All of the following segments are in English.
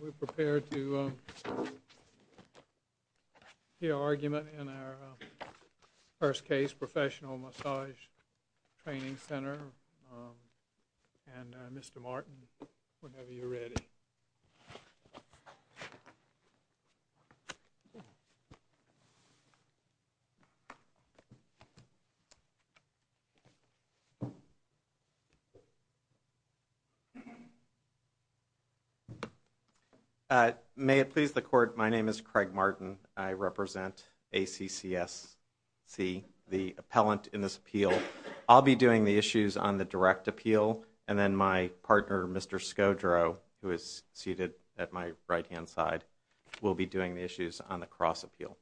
We're prepared to hear argument in our first case, Professional Massage Training Center. And Mr. Martin, whenever you're ready. May it please the court, my name is Craig Martin. I represent ACCSC, the appellant in this appeal. I'll be doing the issues on the direct appeal, and then my partner, Mr. Scodro, who is seated at my right-hand side, will be doing the issues on the cross appeal.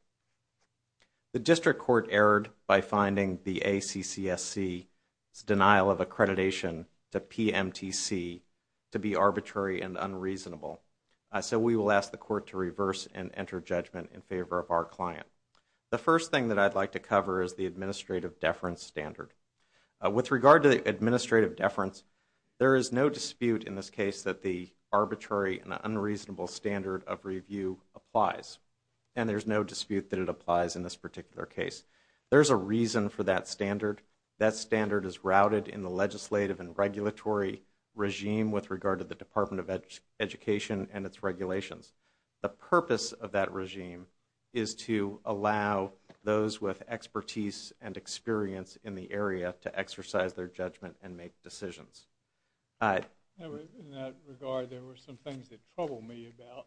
The district court erred by finding the ACCSC's denial of accreditation to PMTC to be arbitrary and unreasonable. So we will ask the court to reverse and enter judgment in favor of our client. The first thing that I'd like to cover is the administrative deference standard. With regard to the administrative deference, there is no dispute in this case that the arbitrary and unreasonable standard of review applies. And there's no dispute that it applies in this particular case. There's a reason for that standard. That standard is routed in the legislative and regulatory regime with regard to the Department of Education and its regulations. The purpose of that regime is to allow those with expertise and experience in the area to exercise their judgment and make decisions. In that regard, there were some things that troubled me about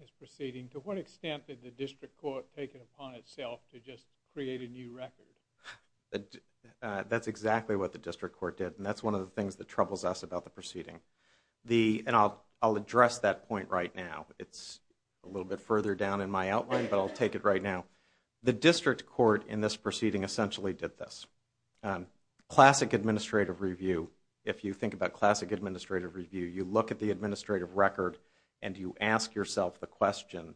this proceeding. To what extent did the district court take it upon itself to just create a new record? That's exactly what the district court did, and that's one of the things that troubles us about the proceeding. And I'll address that point right now. It's a little bit further down in my outline, but I'll take it right now. The district court in this proceeding essentially did this. Classic administrative review, if you think about classic administrative review, you look at the administrative record and you ask yourself the question,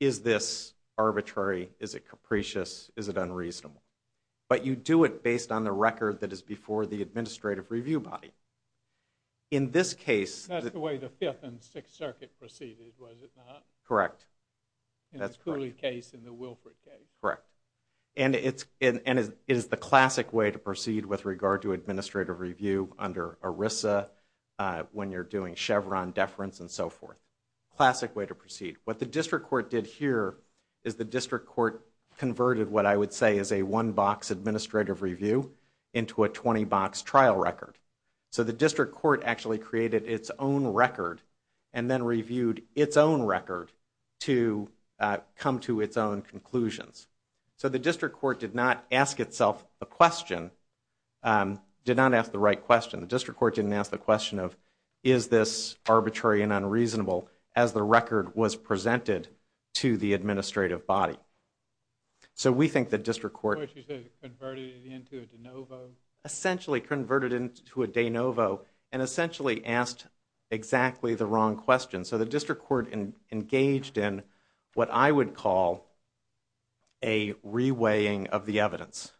is this arbitrary, is it capricious, is it unreasonable? But you do it based on the record that is before the administrative review body. In this case... That's the way the Fifth and Sixth Circuit proceeded, was it not? Correct. In the Cooley case and the Wilfrid case. Correct. And it is the classic way to proceed with regard to administrative review under ERISA when you're doing Chevron deference and so forth. Classic way to proceed. What the district court did here is the district court converted what I would say is a one-box administrative review into a 20-box trial record. So the district court actually created its own record and then reviewed its own record to come to its own conclusions. So the district court did not ask itself a question, did not ask the right question. The district court didn't ask the question of is this arbitrary and unreasonable as the record was presented to the administrative body. So we think the district court... Which is converted into a de novo. Essentially converted into a de novo and essentially asked exactly the wrong question. So the district court engaged in what I would call a reweighing of the evidence.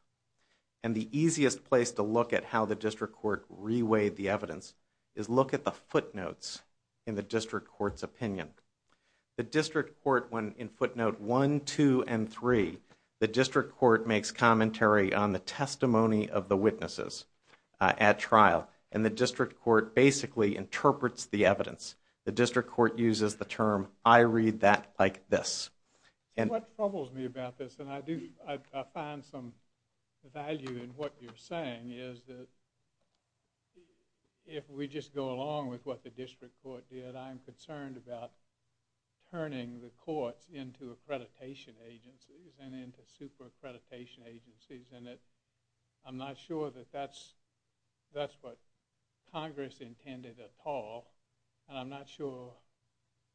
And the easiest place to look at how the district court reweighed the evidence is look at the footnotes in the district court's opinion. The district court went in footnote one, two, and three. The district court makes commentary on the testimony of the witnesses at trial. And the district court basically interprets the evidence. The district court uses the term I read that like this. What troubles me about this, and I find some value in what you're saying, is that if we just go along with what the district court did, I'm concerned about turning the courts into accreditation agencies and into super accreditation agencies. And I'm not sure that that's what Congress intended at all. And I'm not sure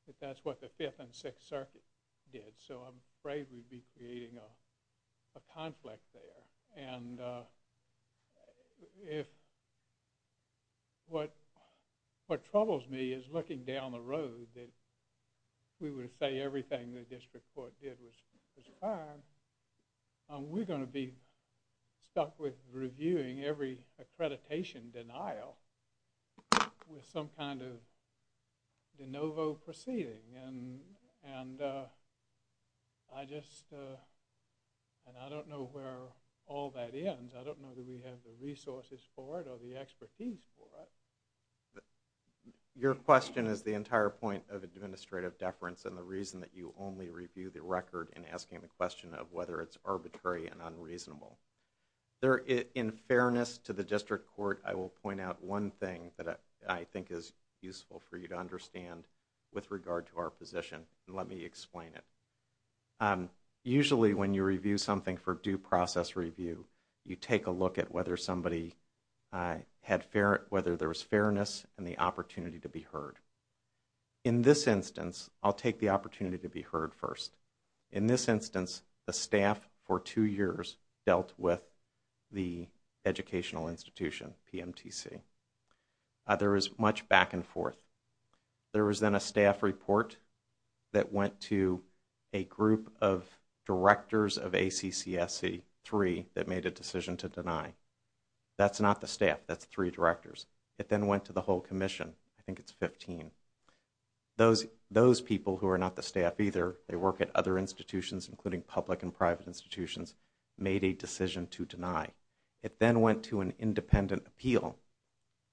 that that's what the Fifth and Sixth Circuit did. So I'm afraid we'd be creating a conflict there. And what troubles me is looking down the road that we would say everything the district court did was fine. We're going to be stuck with reviewing every accreditation denial with some kind of de novo proceeding. And I don't know where all that ends. I don't know that we have the resources for it or the expertise for it. Your question is the entire point of administrative deference and the reason that you only review the record in asking the question of whether it's arbitrary and unreasonable. In fairness to the district court, I will point out one thing that I think is useful for you to understand with regard to our position. Let me explain it. Usually when you review something for due process review, you take a look at whether there was fairness and the opportunity to be heard. In this instance, I'll take the opportunity to be heard first. In this instance, the staff for two years dealt with the educational institution, PMTC. There was much back and forth. There was then a staff report that went to a group of directors of ACCSC, three, that made a decision to deny. That's not the staff, that's three directors. It then went to the whole commission. I think it's 15. Those people who are not the staff either, they work at other institutions including public and private institutions, made a decision to deny. It then went to an independent appeal,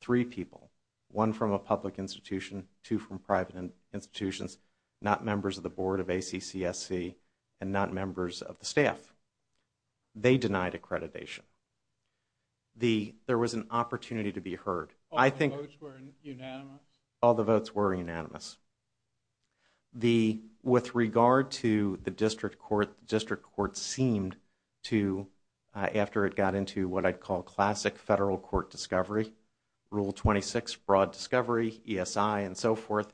three people. One from a public institution, two from private institutions, not members of the board of ACCSC and not members of the staff. They denied accreditation. There was an opportunity to be heard. All the votes were unanimous? All the votes were unanimous. With regard to the district court, the district court seemed to, after it got into what I'd call classic federal court discovery, Rule 26, broad discovery, ESI and so forth,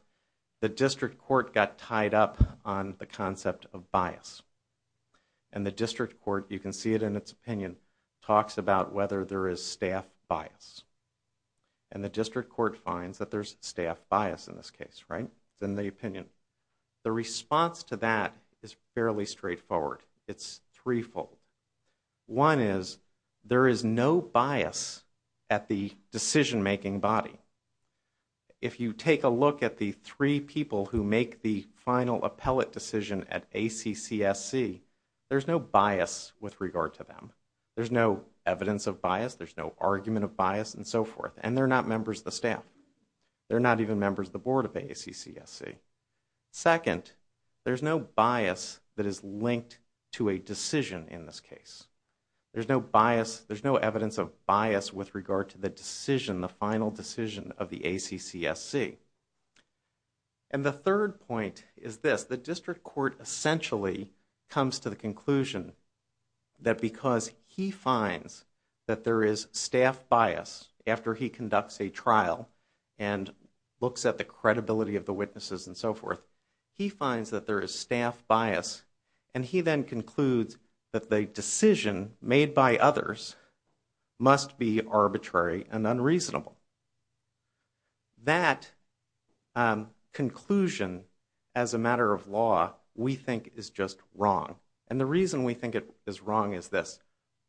the district court got tied up on the concept of bias. And the district court, you can see it in its opinion, talks about whether there is staff bias. And the district court finds that there's staff bias in this case, right? It's in the opinion. The response to that is fairly straightforward. It's threefold. One is there is no bias at the decision-making body. If you take a look at the three people who make the final appellate decision at ACCSC, there's no bias with regard to them. There's no evidence of bias. There's no argument of bias and so forth. And they're not members of the staff. They're not even members of the board of ACCSC. Second, there's no bias that is linked to a decision in this case. There's no bias, there's no evidence of bias with regard to the decision, the final decision of the ACCSC. And the third point is this. The district court essentially comes to the conclusion that because he finds that there is staff bias after he conducts a trial and looks at the credibility of the witnesses and so forth, he finds that there is staff bias. And he then concludes that the decision made by others must be arbitrary and unreasonable. That conclusion, as a matter of law, we think is just wrong. And the reason we think it is wrong is this.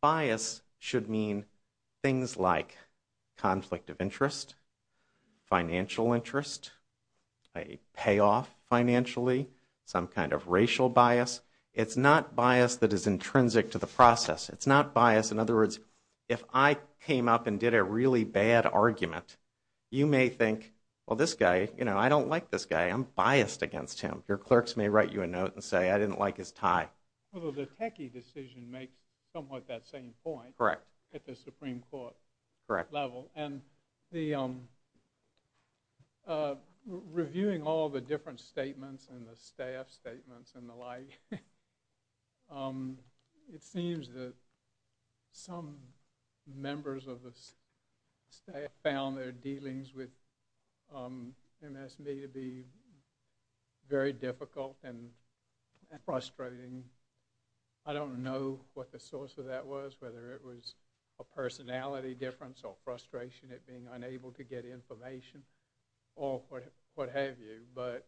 Bias should mean things like conflict of interest, financial interest, a payoff financially, some kind of racial bias. It's not bias that is intrinsic to the process. It's not bias. In other words, if I came up and did a really bad argument, you may think, well, this guy, you know, I don't like this guy. I'm biased against him. Your clerks may write you a note and say I didn't like his tie. Well, the Techie decision makes somewhat that same point. Correct. At the Supreme Court level. Correct. And the reviewing all the different statements and the staff statements and the like, it seems that some members of the staff found their dealings with MS me to be very difficult and frustrating. I don't know what the source of that was, whether it was a personality difference or frustration at being unable to get information or what have you. But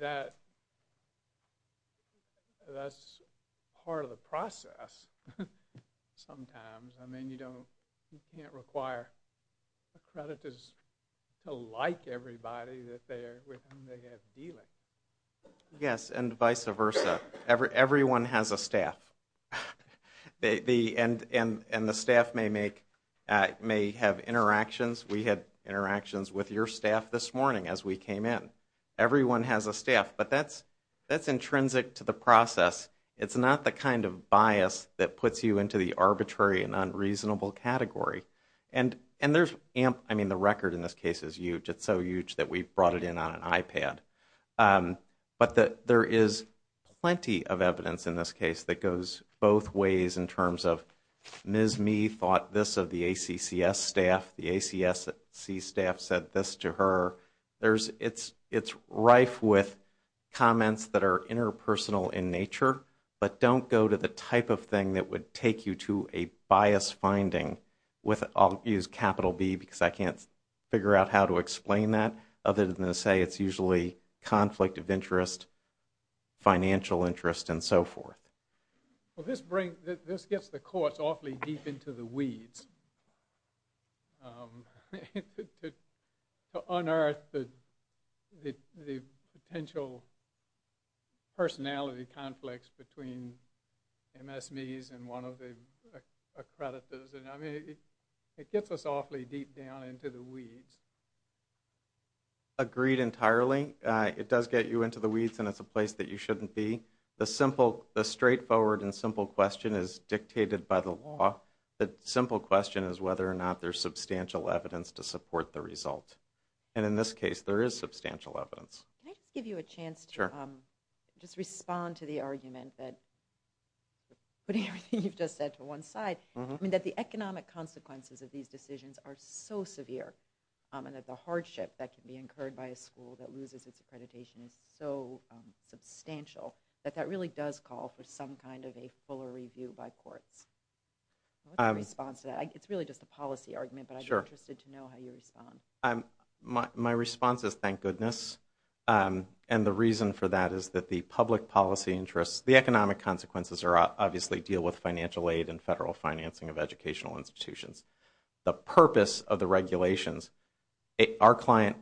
that's part of the process sometimes. I mean, you can't require accreditors to like everybody with whom they have dealings. Yes, and vice versa. Everyone has a staff. And the staff may have interactions. We had interactions with your staff this morning as we came in. Everyone has a staff. But that's intrinsic to the process. It's not the kind of bias that puts you into the arbitrary and unreasonable category. And there's, I mean, the record in this case is huge. It's so huge that we brought it in on an iPad. But there is plenty of evidence in this case that goes both ways in terms of MS me thought this of the ACCS staff. The ACC staff said this to her. It's rife with comments that are interpersonal in nature, but don't go to the type of thing that would take you to a bias finding with, I'll use capital B because I can't figure out how to explain that, other than to say it's usually conflict of interest, financial interest, and so forth. Well, this gets the courts awfully deep into the weeds to unearth the potential personality conflicts between MS me's and one of the accreditors. I mean, it gets us awfully deep down into the weeds. Agreed entirely. It does get you into the weeds, and it's a place that you shouldn't be. The straightforward and simple question is dictated by the law. The simple question is whether or not there's substantial evidence to support the result. And in this case, there is substantial evidence. Can I just give you a chance to just respond to the argument that, putting everything you've just said to one side, that the economic consequences of these decisions are so severe and that the hardship that can be incurred by a school that loses its accreditation is so substantial that that really does call for some kind of a fuller review by courts. What's your response to that? It's really just a policy argument, but I'd be interested to know how you respond. My response is thank goodness. And the reason for that is that the public policy interests, the economic consequences obviously deal with financial aid and federal financing of educational institutions. The purpose of the regulations, our client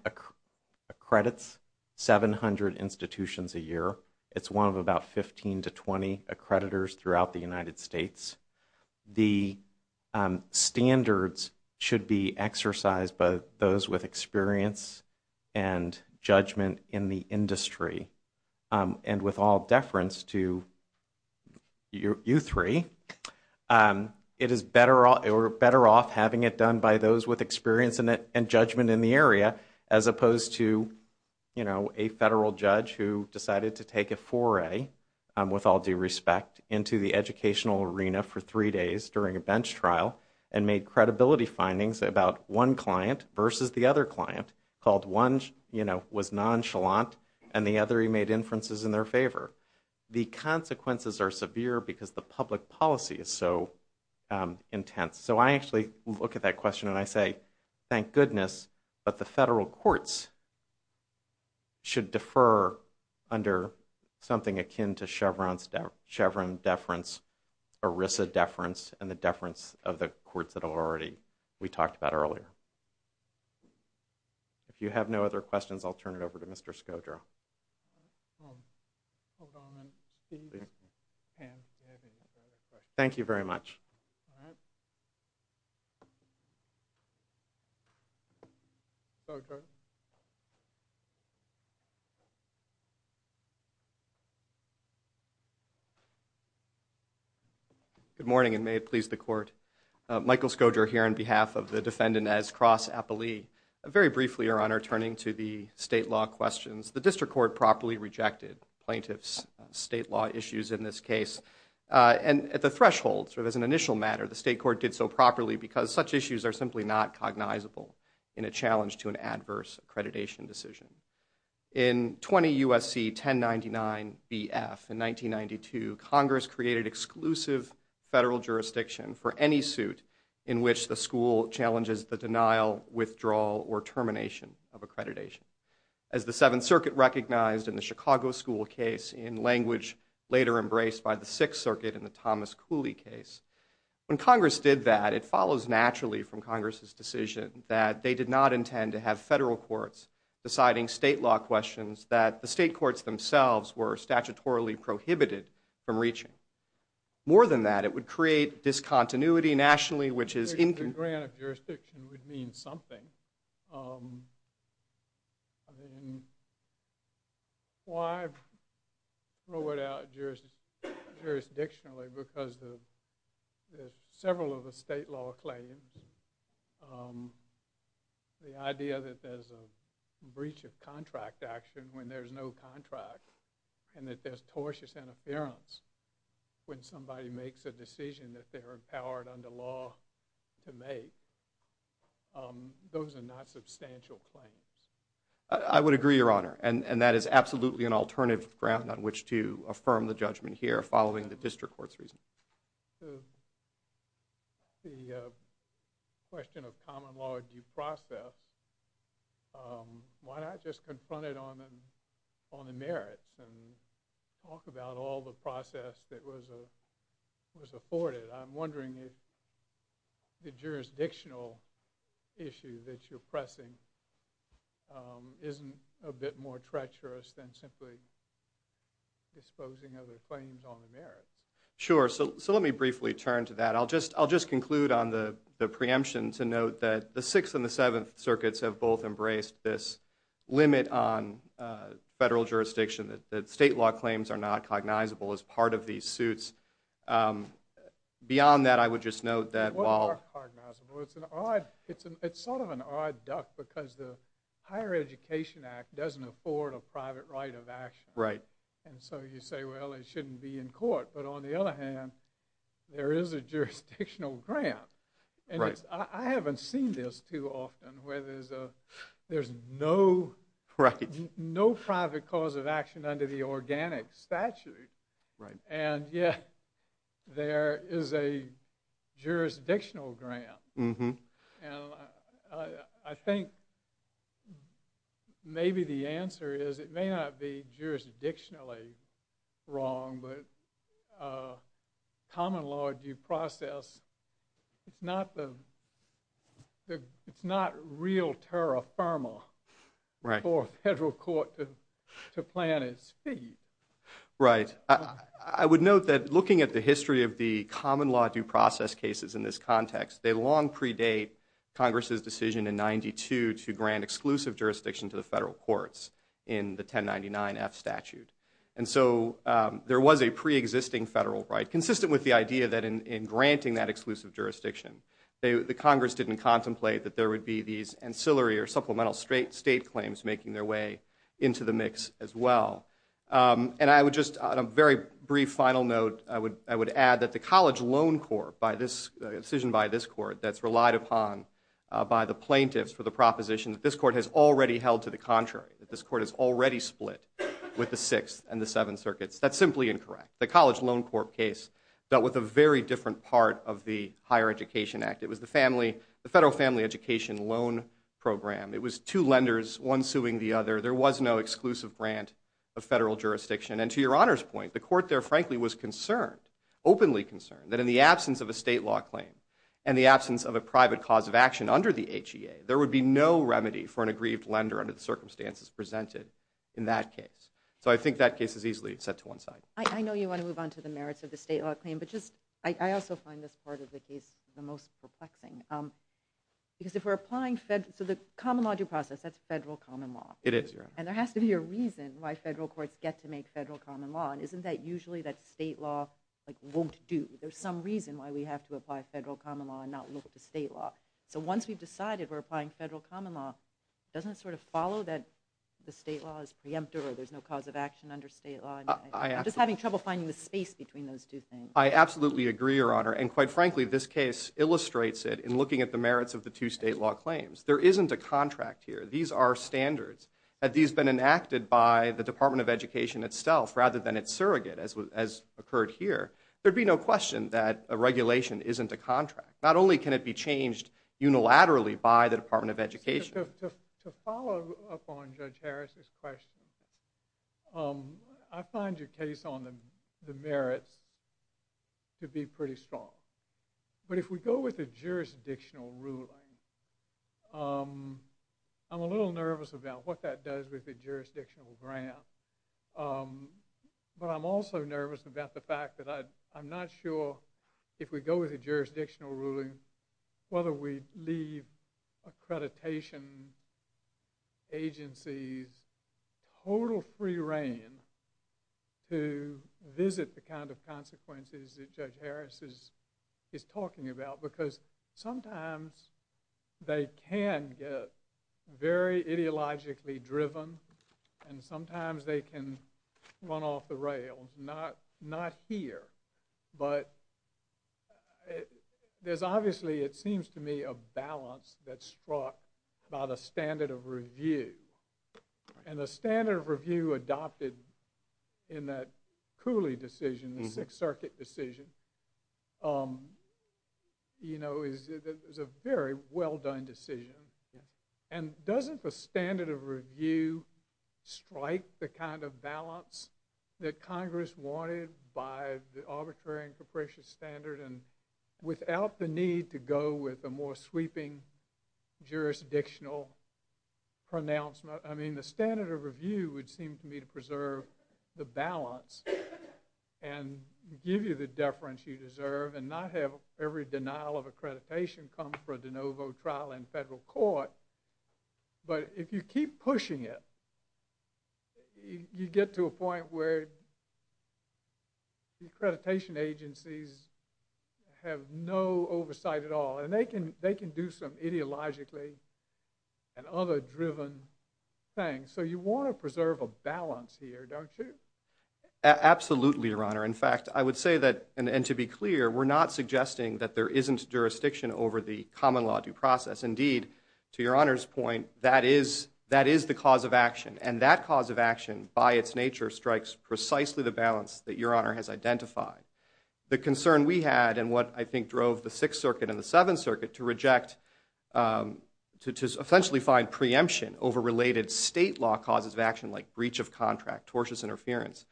accredits 700 institutions a year. It's one of about 15 to 20 accreditors throughout the United States. The standards should be exercised by those with experience and judgment in the industry. And with all deference to you three, it is better off having it done by those with experience and judgment in the area as opposed to a federal judge who decided to take a foray, with all due respect, into the educational arena for three days during a bench trial and made credibility findings about one client versus the other client, called one was nonchalant and the other he made inferences in their favor. The consequences are severe because the public policy is so intense. So I actually look at that question and I say, thank goodness, but the federal courts should defer under something akin to Chevron deference, ERISA deference, and the deference of the courts that we talked about earlier. If you have no other questions, I'll turn it over to Mr. Skodra. Thank you very much. Good morning, and may it please the court. Michael Skodra here on behalf of the defendant as cross appellee. Very briefly, Your Honor, turning to the state law questions, the district court properly rejected plaintiff's state law issues in this case. And at the threshold, as an initial matter, the state court did so properly because such issues are simply not cognizable in a challenge to an adverse accreditation decision. In 20 U.S.C. 1099 B.F. in 1992, Congress created exclusive federal jurisdiction for any suit in which the school challenges the denial, withdrawal, or termination of accreditation. As the Seventh Circuit recognized in the Chicago school case in language later embraced by the Sixth Circuit in the Thomas Cooley case, when Congress did that, it follows naturally from Congress's decision that they did not intend to have federal courts deciding state law questions that the state courts themselves were statutorily prohibited from reaching. More than that, it would create discontinuity nationally, which is... The grant of jurisdiction would mean something. I mean, why throw it out jurisdictionally? Because there's several of the state law claims, the idea that there's a breach of contract action when there's no contract, and that there's tortious interference when somebody makes a decision that they're empowered under law to make. Those are not substantial claims. I would agree, Your Honor. And that is absolutely an alternative ground on which to affirm the judgment here following the district court's reasoning. The question of common law due process, why not just confront it on the merits and talk about all the process that was afforded? I'm wondering if the jurisdictional issue that you're pressing isn't a bit more treacherous than simply disposing other claims on the merits. Sure. So let me briefly turn to that. I'll just conclude on the preemption to note that the Sixth and the Seventh Circuits have both embraced this limit on federal jurisdiction, that state law claims are not cognizable as part of these suits. Beyond that, I would just note that while... They are cognizable. It's sort of an odd duck because the Higher Education Act doesn't afford a private right of action. Right. And so you say, well, it shouldn't be in court. But on the other hand, there is a jurisdictional grant. Right. I haven't seen this too often where there's no... Right. No private cause of action under the organic statute. Right. And yet there is a jurisdictional grant. And I think maybe the answer is it may not be jurisdictionally wrong, but common law due process, it's not real terra firma... Right. ...for a federal court to play on its feet. Right. I would note that looking at the history of the common law due process cases in this context, they long predate Congress's decision in 92 to grant exclusive jurisdiction to the federal courts in the 1099-F statute. And so there was a pre-existing federal right, consistent with the idea that in granting that exclusive jurisdiction, the Congress didn't contemplate that there would be these ancillary or supplemental state claims making their way into the mix as well. And I would just, on a very brief final note, I would add that the college loan court, a decision by this court that's relied upon by the plaintiffs for the proposition that this court has already held to the contrary, that this court has already split with the Sixth and the Seventh Circuits, that's simply incorrect. The college loan court case dealt with a very different part of the Higher Education Act. It was the federal family education loan program. It was two lenders, one suing the other. There was no exclusive grant of federal jurisdiction. And to your Honor's point, the court there frankly was concerned, openly concerned, that in the absence of a state law claim and the absence of a private cause of action under the HEA, there would be no remedy for an aggrieved lender under the circumstances presented in that case. So I think that case is easily set to one side. I know you want to move on to the merits of the state law claim, but just, I also find this part of the case the most perplexing. Because if we're applying, so the common law due process, that's federal common law. It is, Your Honor. And there has to be a reason why federal courts get to make federal common law. And isn't that usually that state law won't do? There's some reason why we have to apply federal common law and not look to state law. So once we've decided we're applying federal common law, doesn't it sort of follow that the state law is preemptive or there's no cause of action under state law? I'm just having trouble finding the space between those two things. I absolutely agree, Your Honor. And quite frankly, this case illustrates it in looking at the merits of the two state law claims. There isn't a contract here. These are standards. Had these been enacted by the Department of Education itself rather than its surrogate as occurred here, there'd be no question that a regulation isn't a contract. Not only can it be changed unilaterally by the Department of Education. To follow up on Judge Harris's question, I find your case on the merits to be pretty strong. But if we go with a jurisdictional ruling, I'm a little nervous about what that does with the jurisdictional grant. But I'm also nervous about the fact that I'm not sure if we go with a jurisdictional ruling, whether we leave accreditation agencies total free reign to visit the kind of consequences that Judge Harris is talking about. Because sometimes they can get very ideologically driven and sometimes they can run off the rails. Not here. But there's obviously, it seems to me, a balance that's struck by the standard of review. And the standard of review adopted in that Cooley decision, the Sixth Circuit decision, is a very well done decision. And doesn't the standard of review strike the kind of balance that Congress wanted by the arbitrary and capricious standard? And without the need to go with a more sweeping jurisdictional pronouncement, I mean, the standard of review would seem to me to preserve the balance and give you the deference you deserve and not have every denial of accreditation come for a de novo trial in federal court. But if you keep pushing it, you get to a point where the accreditation agencies have no oversight at all. And they can do some ideologically and other driven things. So you want to preserve a balance here, don't you? Absolutely, Your Honor. In fact, I would say that, and to be clear, we're not suggesting that there isn't jurisdiction over the common law due process. Indeed, to Your Honor's point, that is the cause of action. And that cause of action, by its nature, strikes precisely the balance that Your Honor has identified. The concern we had, and what I think drove the Sixth Circuit and the Seventh Circuit to reject, to essentially find preemption over related state law causes of action like breach of contract, tortious interference,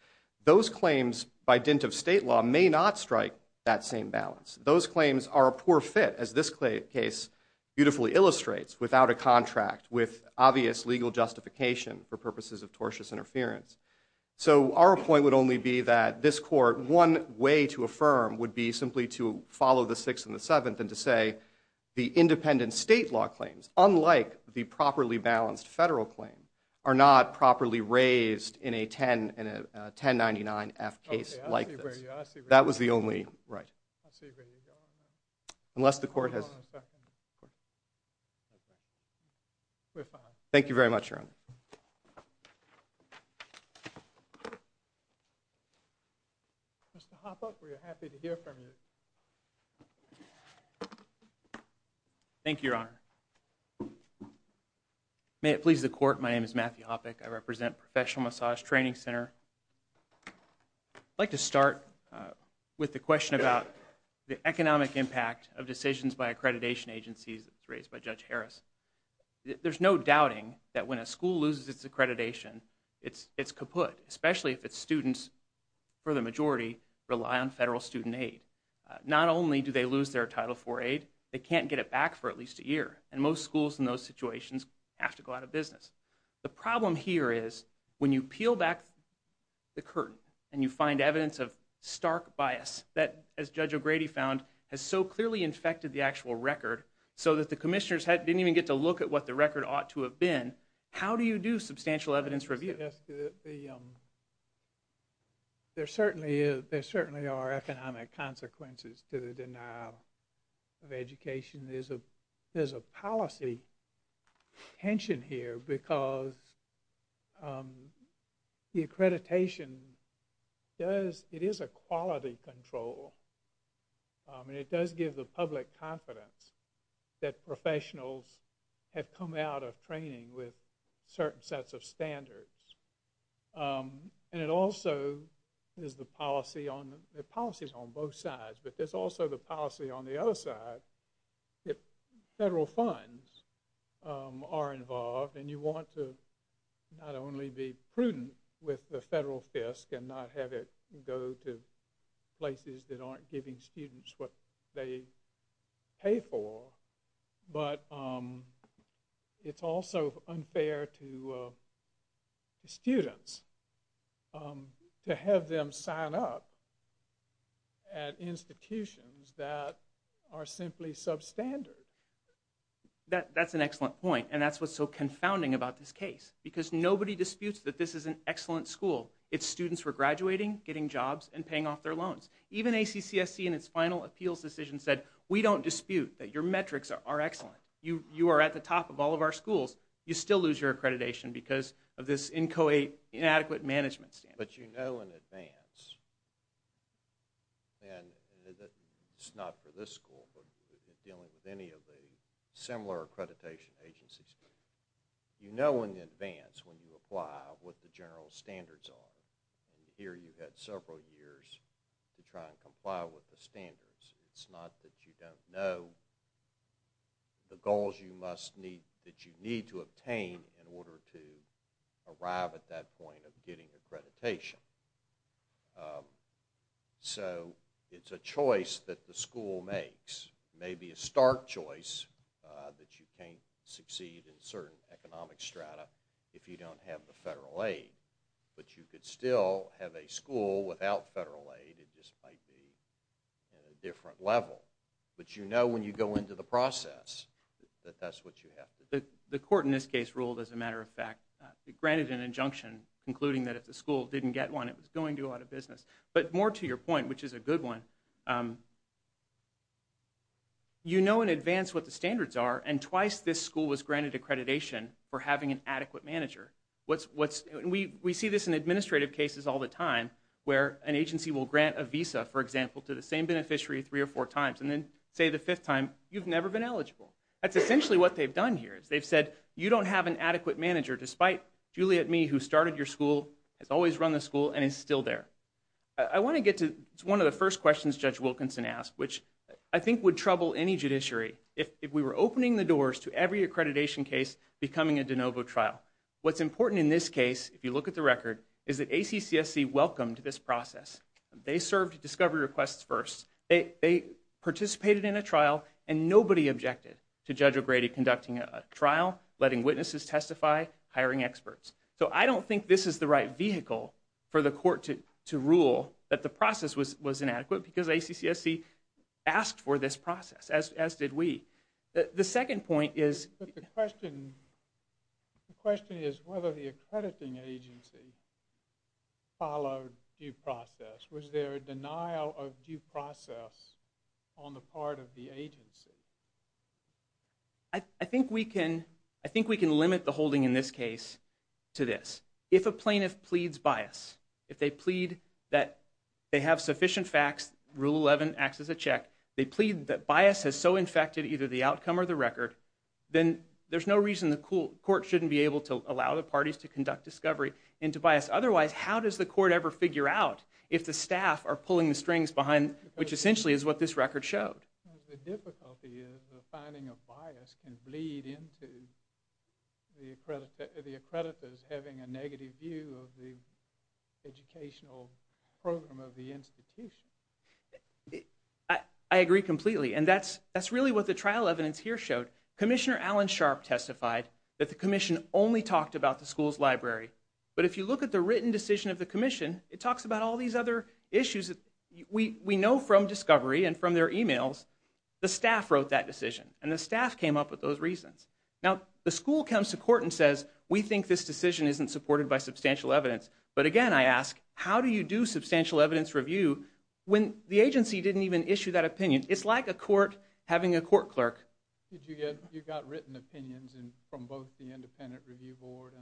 those claims, by dint of state law, may not strike that same balance. Those claims are a poor fit, as this case beautifully illustrates, without a contract, with obvious legal justification for purposes of tortious interference. So our point would only be that this court, one way to affirm would be simply to follow the Sixth and the Seventh and to say the independent state law claims, unlike the properly balanced federal claim, are not properly raised in a 1099-F case like this. That was the only right. Unless the court has... Thank you very much, Your Honor. Thank you, Your Honor. May it please the court, my name is Matthew Hoppeck. I represent Professional Massage Training Center. I'd like to start with the question about the economic impact of decisions by accreditation agencies raised by Judge Harris. There's no doubting that when a school loses its accreditation, it's kaput, especially if its students, for the majority, rely on federal student aid. Not only do they lose their Title IV aid, they can't get it back for at least a year, and most schools in those situations have to go out of business. The problem here is when you peel back the curtain and you find evidence of stark bias, that, as Judge O'Grady found, has so clearly infected the actual record, so that the commissioners didn't even get to look at what the record ought to have been, how do you do substantial evidence review? There certainly are economic consequences to the denial of education. There's a policy tension here because the accreditation does... I mean, it does give the public confidence that professionals have come out of training with certain sets of standards. And it also is the policy on... There are policies on both sides, but there's also the policy on the other side that federal funds are involved, and you want to not only be prudent with the federal fisc, and not have it go to places that aren't giving students what they pay for, but it's also unfair to students to have them sign up at institutions that are simply substandard. That's an excellent point, and that's what's so confounding about this case, because nobody disputes that this is an excellent school. Its students were graduating, getting jobs, and paying off their loans. Even ACCSC in its final appeals decision said, we don't dispute that your metrics are excellent. You are at the top of all of our schools. You still lose your accreditation because of this inadequate management standards. But you know in advance, and it's not for this school, but dealing with any of the similar accreditation agencies, you know in advance when you apply what the general standards are. Here you've had several years to try and comply with the standards. It's not that you don't know the goals that you need to obtain in order to arrive at that point of getting accreditation. So it's a choice that the school makes. Maybe a stark choice that you can't succeed in certain economic strata if you don't have the federal aid. But you could still have a school without federal aid. It just might be at a different level. But you know when you go into the process that that's what you have to do. The court in this case ruled, as a matter of fact, granted an injunction concluding that if the school didn't get one, it was going to do a lot of business. But more to your point, which is a good one, you know in advance what the standards are, and twice this school was granted accreditation for having an adequate manager. We see this in administrative cases all the time where an agency will grant a visa, for example, to the same beneficiary three or four times, and then say the fifth time, you've never been eligible. That's essentially what they've done here. They've said, you don't have an adequate manager despite Juliet Mee, who started your school, has always run the school, and is still there. I want to get to one of the first questions Judge Wilkinson asked, which I think would trouble any judiciary. If we were opening the doors to every accreditation case becoming a de novo trial, what's important in this case, if you look at the record, is that ACCSC welcomed this process. They served discovery requests first. They participated in a trial, and nobody objected to Judge O'Grady conducting a trial, letting witnesses testify, hiring experts. So I don't think this is the right vehicle for the court to rule that the process was inadequate because ACCSC asked for this process, as did we. The second point is... The question is whether the accrediting agency followed due process. Was there a denial of due process on the part of the agency? I think we can limit the holding in this case to this. If a plaintiff pleads bias, if they plead that they have sufficient facts, Rule 11 acts as a check, they plead that bias has so infected either the outcome or the record, then there's no reason the court shouldn't be able to allow the parties to conduct discovery into bias. Otherwise, how does the court ever figure out if the staff are pulling the strings behind... which essentially is what this record showed. The difficulty is the finding of bias can bleed into the accreditors having a negative view of the educational program of the institution. I agree completely, and that's really what the trial evidence here showed. Commissioner Alan Sharp testified that the commission only talked about the school's library. But if you look at the written decision of the commission, it talks about all these other issues that we know from discovery and from their e-mails. The staff wrote that decision, and the staff came up with those reasons. Now, the school comes to court and says, we think this decision isn't supported by substantial evidence. But again, I ask, how do you do substantial evidence review when the agency didn't even issue that opinion? It's like a court having a court clerk. You got written opinions from both the independent review board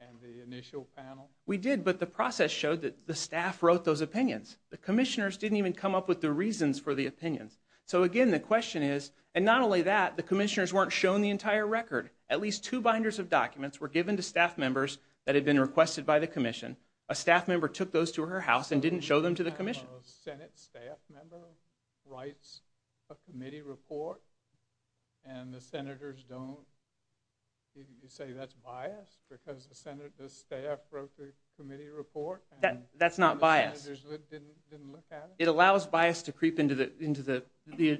and the initial panel? We did, but the process showed that the staff wrote those opinions. The commissioners didn't even come up with the reasons for the opinions. So again, the question is... and not only that, the commissioners weren't shown the entire record. At least two binders of documents were given to staff members that had been requested by the commission. A staff member took those to her house and didn't show them to the commission. So a Senate staff member writes a committee report, and the senators don't... you say that's biased, because the staff wrote the committee report? That's not biased. And the senators didn't look at it? It allows bias to creep into the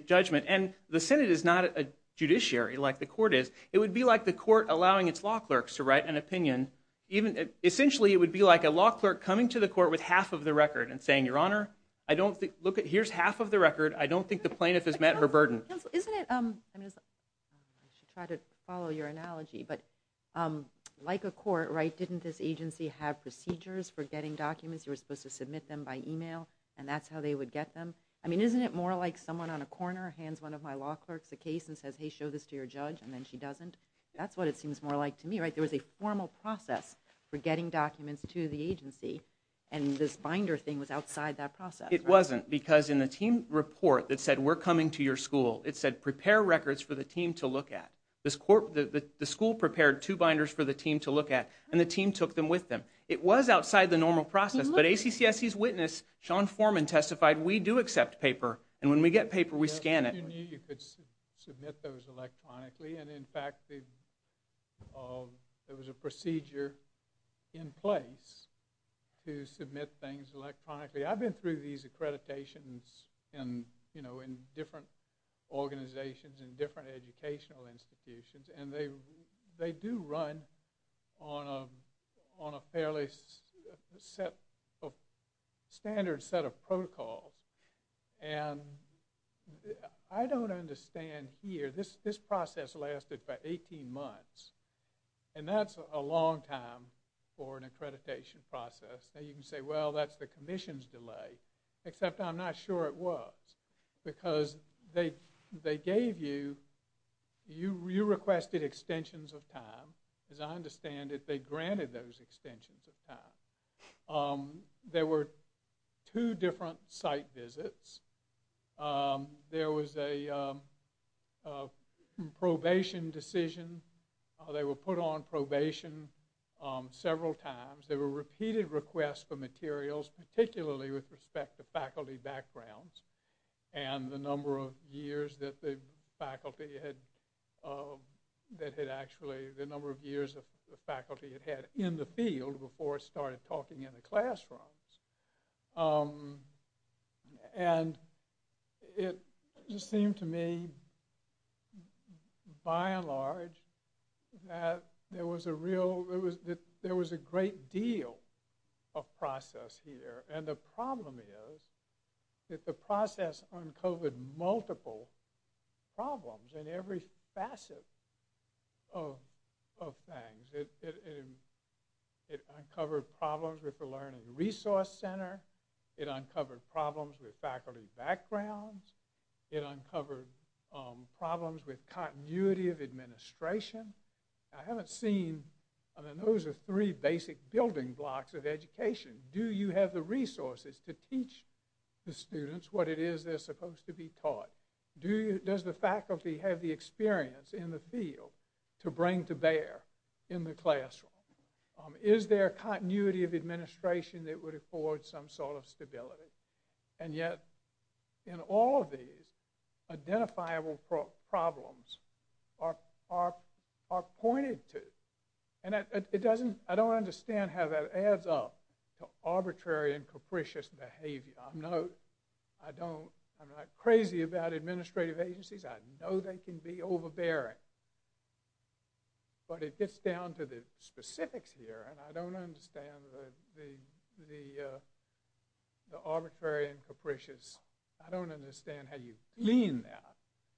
judgment. And the Senate is not a judiciary like the court is. It would be like the court allowing its law clerks to write an opinion. Essentially, it would be like a law clerk coming to the court with half of the record and saying, Your Honor, I don't think... here's half of the record. I don't think the plaintiff has met her burden. Isn't it... I should try to follow your analogy, but like a court, right, didn't this agency have procedures for getting documents? You were supposed to submit them by email, and that's how they would get them? I mean, isn't it more like someone on a corner hands one of my law clerks a case and says, hey, show this to your judge, That's what it seems more like to me, right? There was a formal process for getting documents to the agency, and this binder thing was outside that process. It wasn't, because in the team report that said, We're coming to your school, it said, Prepare records for the team to look at. The school prepared two binders for the team to look at, and the team took them with them. It was outside the normal process, but ACCSC's witness, Sean Foreman, testified, We do accept paper, and when we get paper, we scan it. You knew you could submit those electronically, and in fact, there was a procedure in place to submit things electronically. I've been through these accreditations in different organizations and different educational institutions, and they do run on a fairly standard set of protocols, and I don't understand here. This process lasted about 18 months, and that's a long time for an accreditation process. Now, you can say, Well, that's the commission's delay, except I'm not sure it was, because they gave you, you requested extensions of time. As I understand it, they granted those extensions of time. There were two different site visits. There was a probation decision. They were put on probation several times. There were repeated requests for materials, particularly with respect to faculty backgrounds and the number of years that the faculty had, that had actually, the number of years the faculty had had in the field before it started talking in the classrooms, and it just seemed to me, by and large, that there was a real, there was a great deal of process here, and the problem is that the process uncovered multiple problems in every facet of things. It uncovered problems with the Learning Resource Center. It uncovered problems with faculty backgrounds. It uncovered problems with continuity of administration. I haven't seen, I mean, those are three basic building blocks of education. Do you have the resources to teach the students what it is they're supposed to be taught? Does the faculty have the experience in the field to bring to bear in the classroom? Is there continuity of administration that would afford some sort of stability? And yet, in all of these, identifiable problems are pointed to, and it doesn't, I don't understand how that adds up to arbitrary and capricious behavior. I'm not, I don't, I'm not crazy about administrative agencies. I know they can be overbearing, but it gets down to the specifics here, and I don't understand the arbitrary and capricious, I don't understand how you lean that.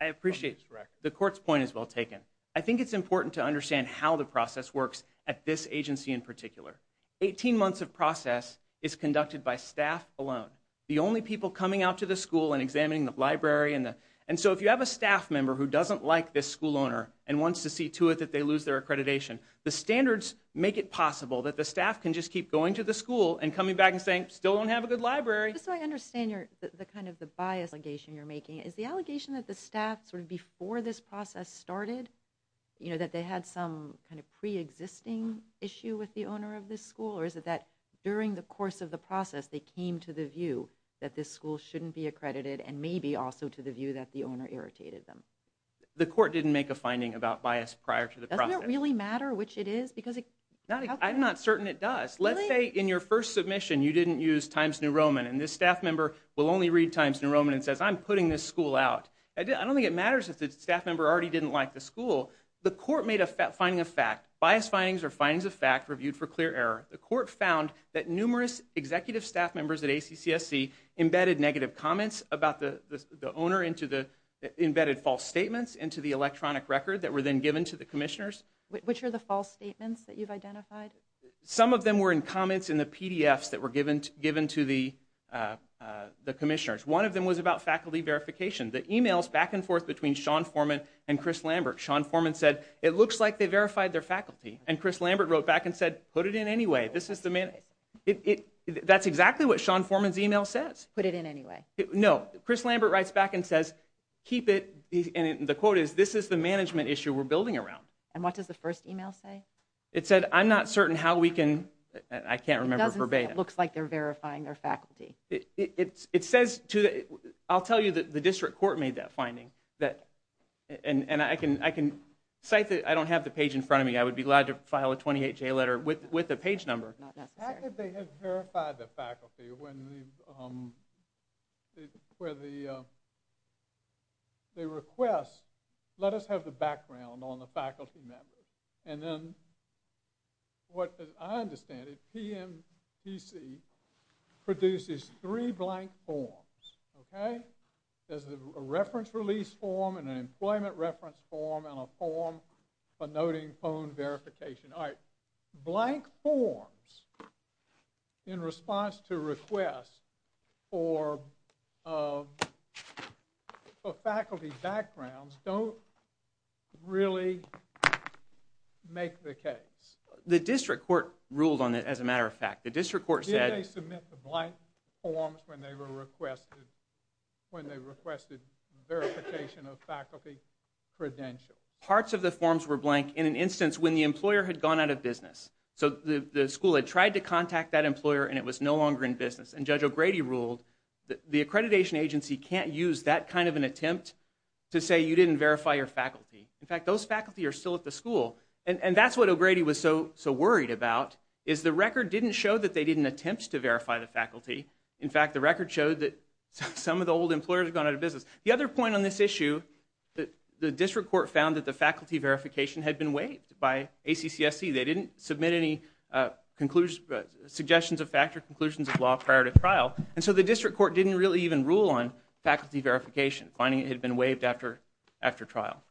I appreciate, the court's point is well taken. I think it's important to understand how the process works at this agency in particular. 18 months of process is conducted by staff alone. The only people coming out to the school and examining the library and the, and so if you have a staff member who doesn't like this school owner and wants to see to it that they lose their accreditation, the standards make it possible that the staff can just keep going to the school and coming back and saying, still don't have a good library. Just so I understand your, the kind of the bias allegation you're making, is the allegation that the staff sort of before this process started, you know that they had some kind of pre-existing issue with the owner of this school, or is it that during the course of the process they came to the view that this school shouldn't be accredited and maybe also to the view that the owner irritated them? The court didn't make a finding about bias prior to the process. Doesn't it really matter which it is? Because it, I'm not certain it does. Let's say in your first submission you didn't use Times New Roman and this staff member will only read Times New Roman and says, I'm putting this school out. I don't think it matters if the staff member already didn't like the school. The court made a finding of fact. Bias findings are findings of fact reviewed for clear error. The court found that numerous executive staff members at ACCSC embedded negative comments about the owner into the, embedded false statements into the electronic record that were then given to the commissioners. Which are the false statements that you've identified? Some of them were in comments in the PDFs that were given to the commissioners. One of them was about faculty verification. The emails back and forth between Sean Forman and Chris Lambert. Sean Forman said, it looks like they verified their faculty. And Chris Lambert wrote back and said, put it in anyway. This is the, that's exactly what Sean Forman's email says. Put it in anyway. No. Chris Lambert writes back and says, keep it, and the quote is, this is the management issue we're building around. And what does the first email say? It said, I'm not certain how we can, I can't remember verbatim. But it looks like they're verifying their faculty. It says to the, I'll tell you that the district court made that finding. That, and I can, I can cite that, I don't have the page in front of me. I would be glad to file a 28-J letter with the page number. Not necessary. How could they have verified the faculty when the, where the, they request, let us have the background on the faculty members. And then, what I understand, is that the PMTC produces three blank forms. Okay? There's a reference release form, and an employment reference form, and a form for noting phone verification. Alright. Blank forms in response to requests for, for faculty backgrounds don't really make the case. The district court ruled on it, as a matter of fact. The district court said, Did they submit the blank forms when they were requested, when they requested verification of faculty credentials? Parts of the forms were blank in an instance when the employer had gone out of business. So the school had tried to contact that employer and it was no longer in business. And Judge O'Grady ruled the accreditation agency can't use that kind of an attempt to say you didn't verify your faculty. In fact, those faculty are still at the school. And that's what O'Grady was so worried about, is the record didn't show that they didn't attempt to verify the faculty. In fact, the record showed that some of the old employers had gone out of business. The other point on this issue, the district court found that the faculty verification had been waived by ACCSC. They didn't submit any conclusions, suggestions of fact or conclusions of law prior to trial. And so the district court didn't really even rule on faculty verification, finding it had been waived after trial.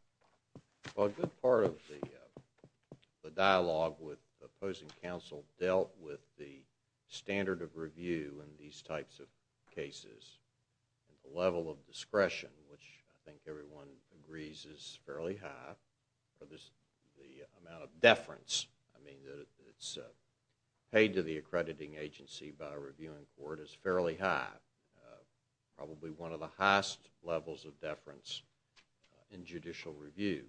A good part of the dialogue with opposing counsel dealt with the standard of review in these types of cases. The level of discretion, which I think everyone agrees is fairly high. The amount of deference, I mean it's paid to the accrediting agency by a reviewing court, is fairly high. Probably one of the highest levels of deference in judicial review.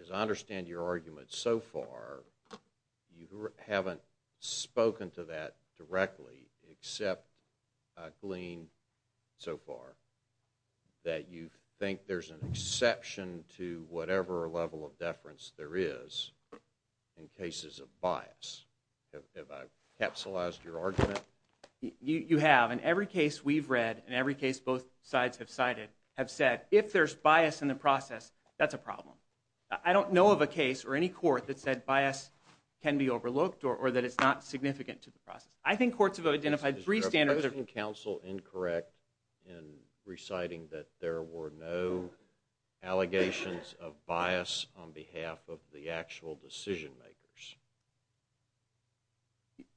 As I understand your argument so far, you haven't spoken to that directly except Gleen so far, that you think there's an exception to whatever level of deference there is in cases of bias. Have I capsulized your argument? You have. In every case we've read, in every case both sides have said, if there's bias in the process, that's a problem. I don't know of a case or any court that said bias can be overlooked or that it's not significant to the process. I think courts have identified three standards. Is the opposing counsel incorrect in reciting that there were no allegations of bias on behalf of the actual decision makers?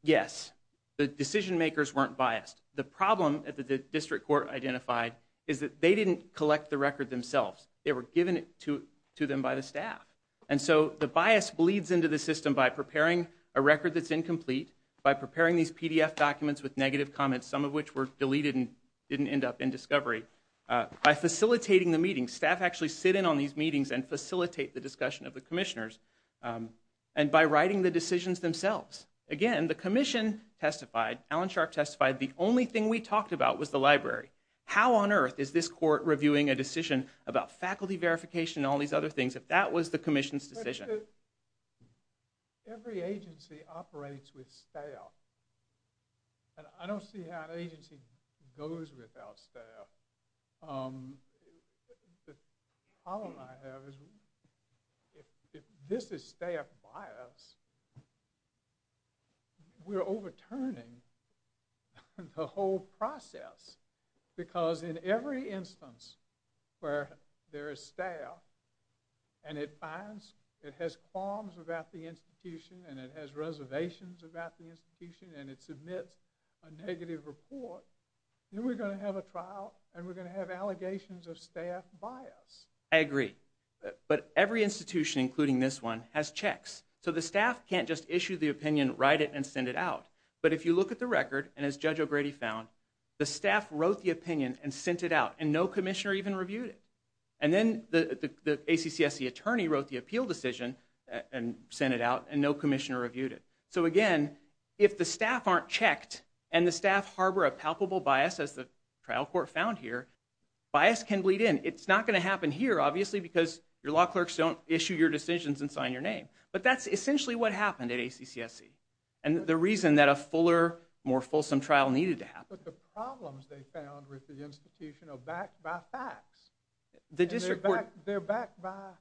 Yes. The decision makers weren't biased. The problem that the district court identified is that they didn't collect the record themselves. They were given it to them by the staff. And so the bias bleeds into the system by preparing a record that's incomplete, by preparing these PDF documents with negative comments, some of which were deleted and didn't end up in discovery, by facilitating the meetings. Staff actually sit in on these meetings and facilitate the discussion of the commissioners, and by writing the decisions themselves. Again, the commission testified, Alan Sharp testified, the only thing we talked about was the library. How on earth is this court reviewing a decision about faculty verification and all these other things if that was the commission's decision? Every agency operates with staff. And I don't see how an agency goes without staff. The problem I have is if this is staff bias, we're overturning the whole process because in every instance where there is staff and it has qualms about the institution and it has reservations about the institution and it submits a negative report, then we're going to have a trial and we're going to have allegations of staff bias. I agree. But every institution, including this one, has checks. So the staff can't just issue the opinion, write it, and send it out. But if you look at the record, and as Judge O'Grady found, the staff wrote the opinion and sent it out and no commissioner even reviewed it. And then the ACCSC attorney wrote the appeal decision and sent it out and no commissioner reviewed it. So again, if the staff aren't checked and the staff harbor a palpable bias as the trial court found here, bias can bleed in. It's not going to happen here, obviously, because your law clerks don't issue your decisions and sign your name. But that's essentially what happened at ACCSC. And the reason that a fuller, more fulsome trial needed to happen. But the problems they found with the institution are backed by facts. They're backed by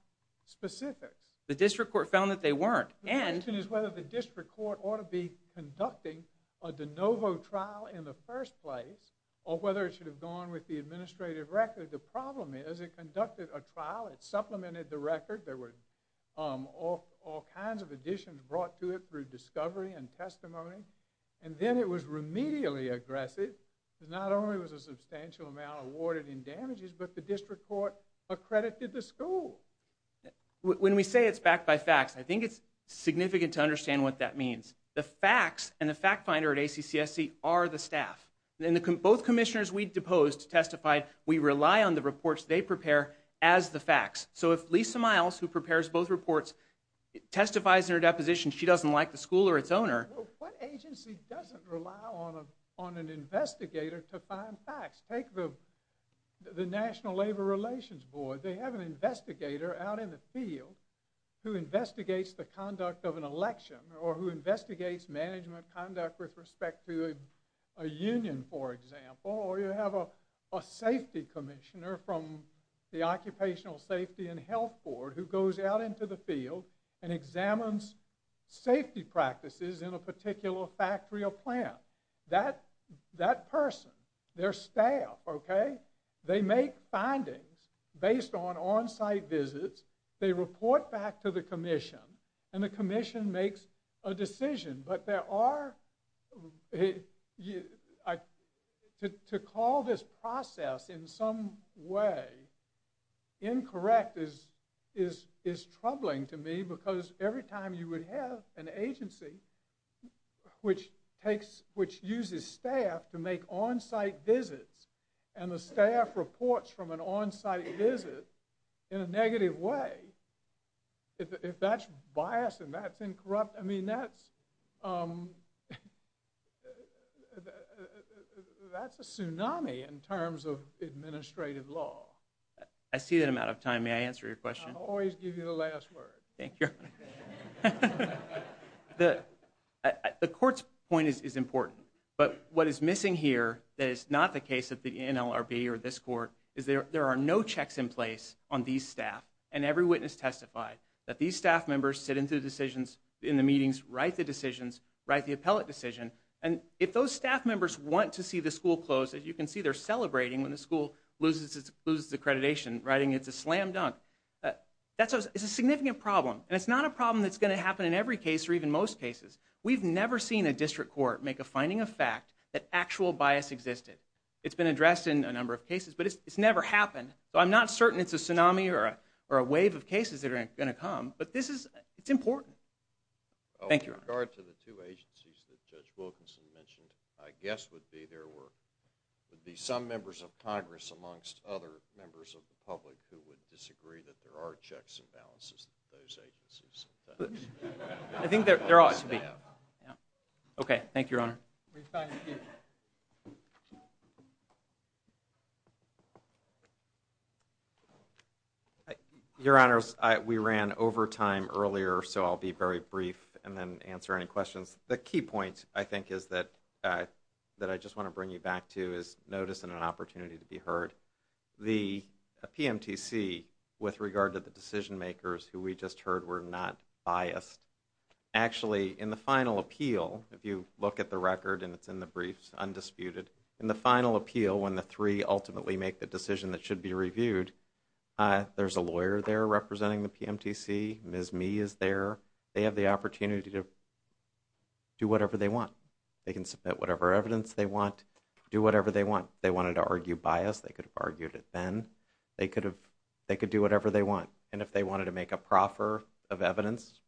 specifics. The district court found that they weren't. The question is whether the district court ought to be conducting a de novo trial in the first place or whether it should have gone with the administrative record. The problem is it conducted a trial, it supplemented the record. There were all kinds of additions brought to it through discovery and testimony. And then it was remedially aggressive because not only was a substantial amount awarded in damages, but the district court accredited the school. When we say it's backed by facts, I think it's significant to understand what that means. The facts and the fact finder at ACCSC Both commissioners we deposed testified we rely on the reports they prepare as the facts. So if Lisa Miles, who prepares both reports, testifies in her deposition she doesn't like the school or its owner. What agency doesn't rely on an investigator to find facts? Take the National Labor Relations Board. They have an investigator out in the field who investigates the conduct of an election or who investigates management conduct with respect to a union, for example. Or you have a safety commissioner from the Occupational Safety and Health Board who goes out into the field and examines safety practices in a particular factory or plant. That person, their staff, they make findings based on on-site visits. They report back to the commission and the commission makes a decision. But there are... To call this process in some way incorrect is troubling to me because every time you would have an agency which uses staff to make on-site visits and the staff reports from an on-site visit in a negative way, if that's bias and that's incorruptible, I mean, that's a tsunami in terms of administrative law. I see that I'm out of time. May I answer your question? I always give you the last word. Thank you. The court's point is important, but what is missing here that is not the case of the NLRB or this court is there are no checks in place on these staff and every witness testified that these staff members sit into decisions in the meetings, write the decisions, write the appellate decision, and if those staff members want to see the school close, as you can see they're celebrating when the school loses its accreditation, writing it's a slam dunk. It's a significant problem and it's not a problem that's going to happen in every case or even most cases. We've never seen a district court make a finding of fact that actual bias existed. It's been addressed in a number of cases, but it's never happened. So I'm not certain it's a tsunami or a wave of cases that are going to come, but this is, it's important. Thank you, Your Honor. With regard to the two agencies that Judge Wilkinson mentioned, I guess would be there were, would be some members of Congress amongst other members of the public who would disagree that there are checks and balances at those agencies. I think there ought to be. Okay, thank you, Your Honor. Refine the speaker. Your Honors, we ran overtime earlier, so I'll be very brief and then answer any questions. The key point I think is that, that I just want to bring you back to is notice and an opportunity to be heard. The PMTC, with regard to the decision makers who we just heard were not biased, actually in the final appeal, if you look at the record and it's in the briefs, undisputed, in the final appeal when the three ultimately make the decision that should be reviewed, there's a lawyer there representing the PMTC, Ms. Mee is there. They have the opportunity to do whatever they want. They can submit whatever evidence they want, do whatever they want. If they wanted to argue bias, they could have argued it then. They could have, they could do whatever they want. And if they wanted to make a proffer of evidence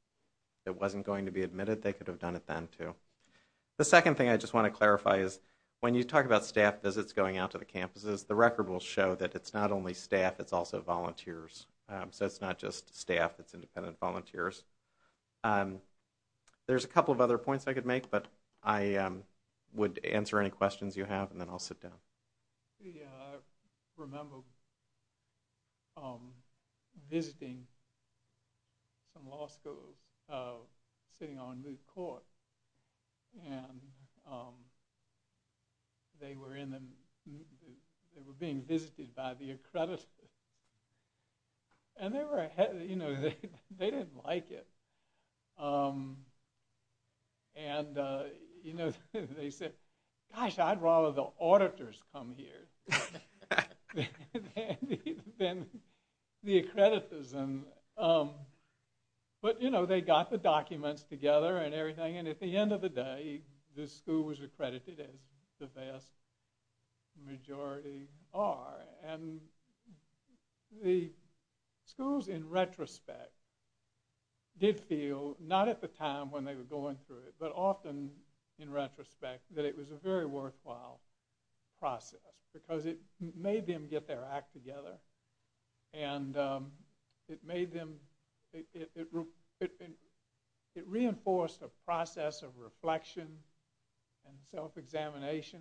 that wasn't going to be admitted, they could have done it then too. The second thing I just want to clarify is when you talk about staff visits going out to the campuses, the record will show that it's not only staff, it's also volunteers. So it's not just staff, it's independent volunteers. There's a couple of other points I could make, but I would answer any questions you have and then I'll sit down. Yeah, I remember visiting some law schools, sitting on Moot Court, and they were being visited by the accreditors. And they were, you know, they didn't like it. And, you know, they said, gosh, I'd rather the auditors come here than the accreditors. But, you know, they got the documents together and everything, and at the end of the day, the school was accredited as the vast majority are. And the schools, in retrospect, did feel, not at the time when they were going through it, but often in retrospect, that it was a very worthwhile process because it made them get their act together. And it reinforced a process of reflection and self-examination,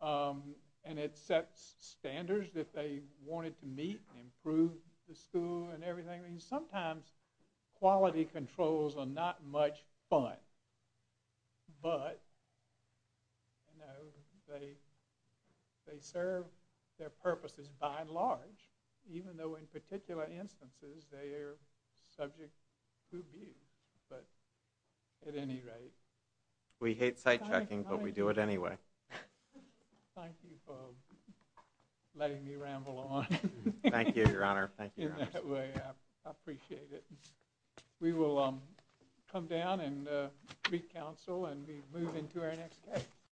and it set standards that they wanted to meet and improve the school and everything. I mean, sometimes quality controls are not much fun, but, you know, they serve their purposes by and large, even though in particular instances they are subject to abuse. But at any rate... We hate sight checking, but we do it anyway. Thank you for letting me ramble on. Thank you, Your Honor. In that way, I appreciate it. We will come down and re-counsel, and we move into our next case.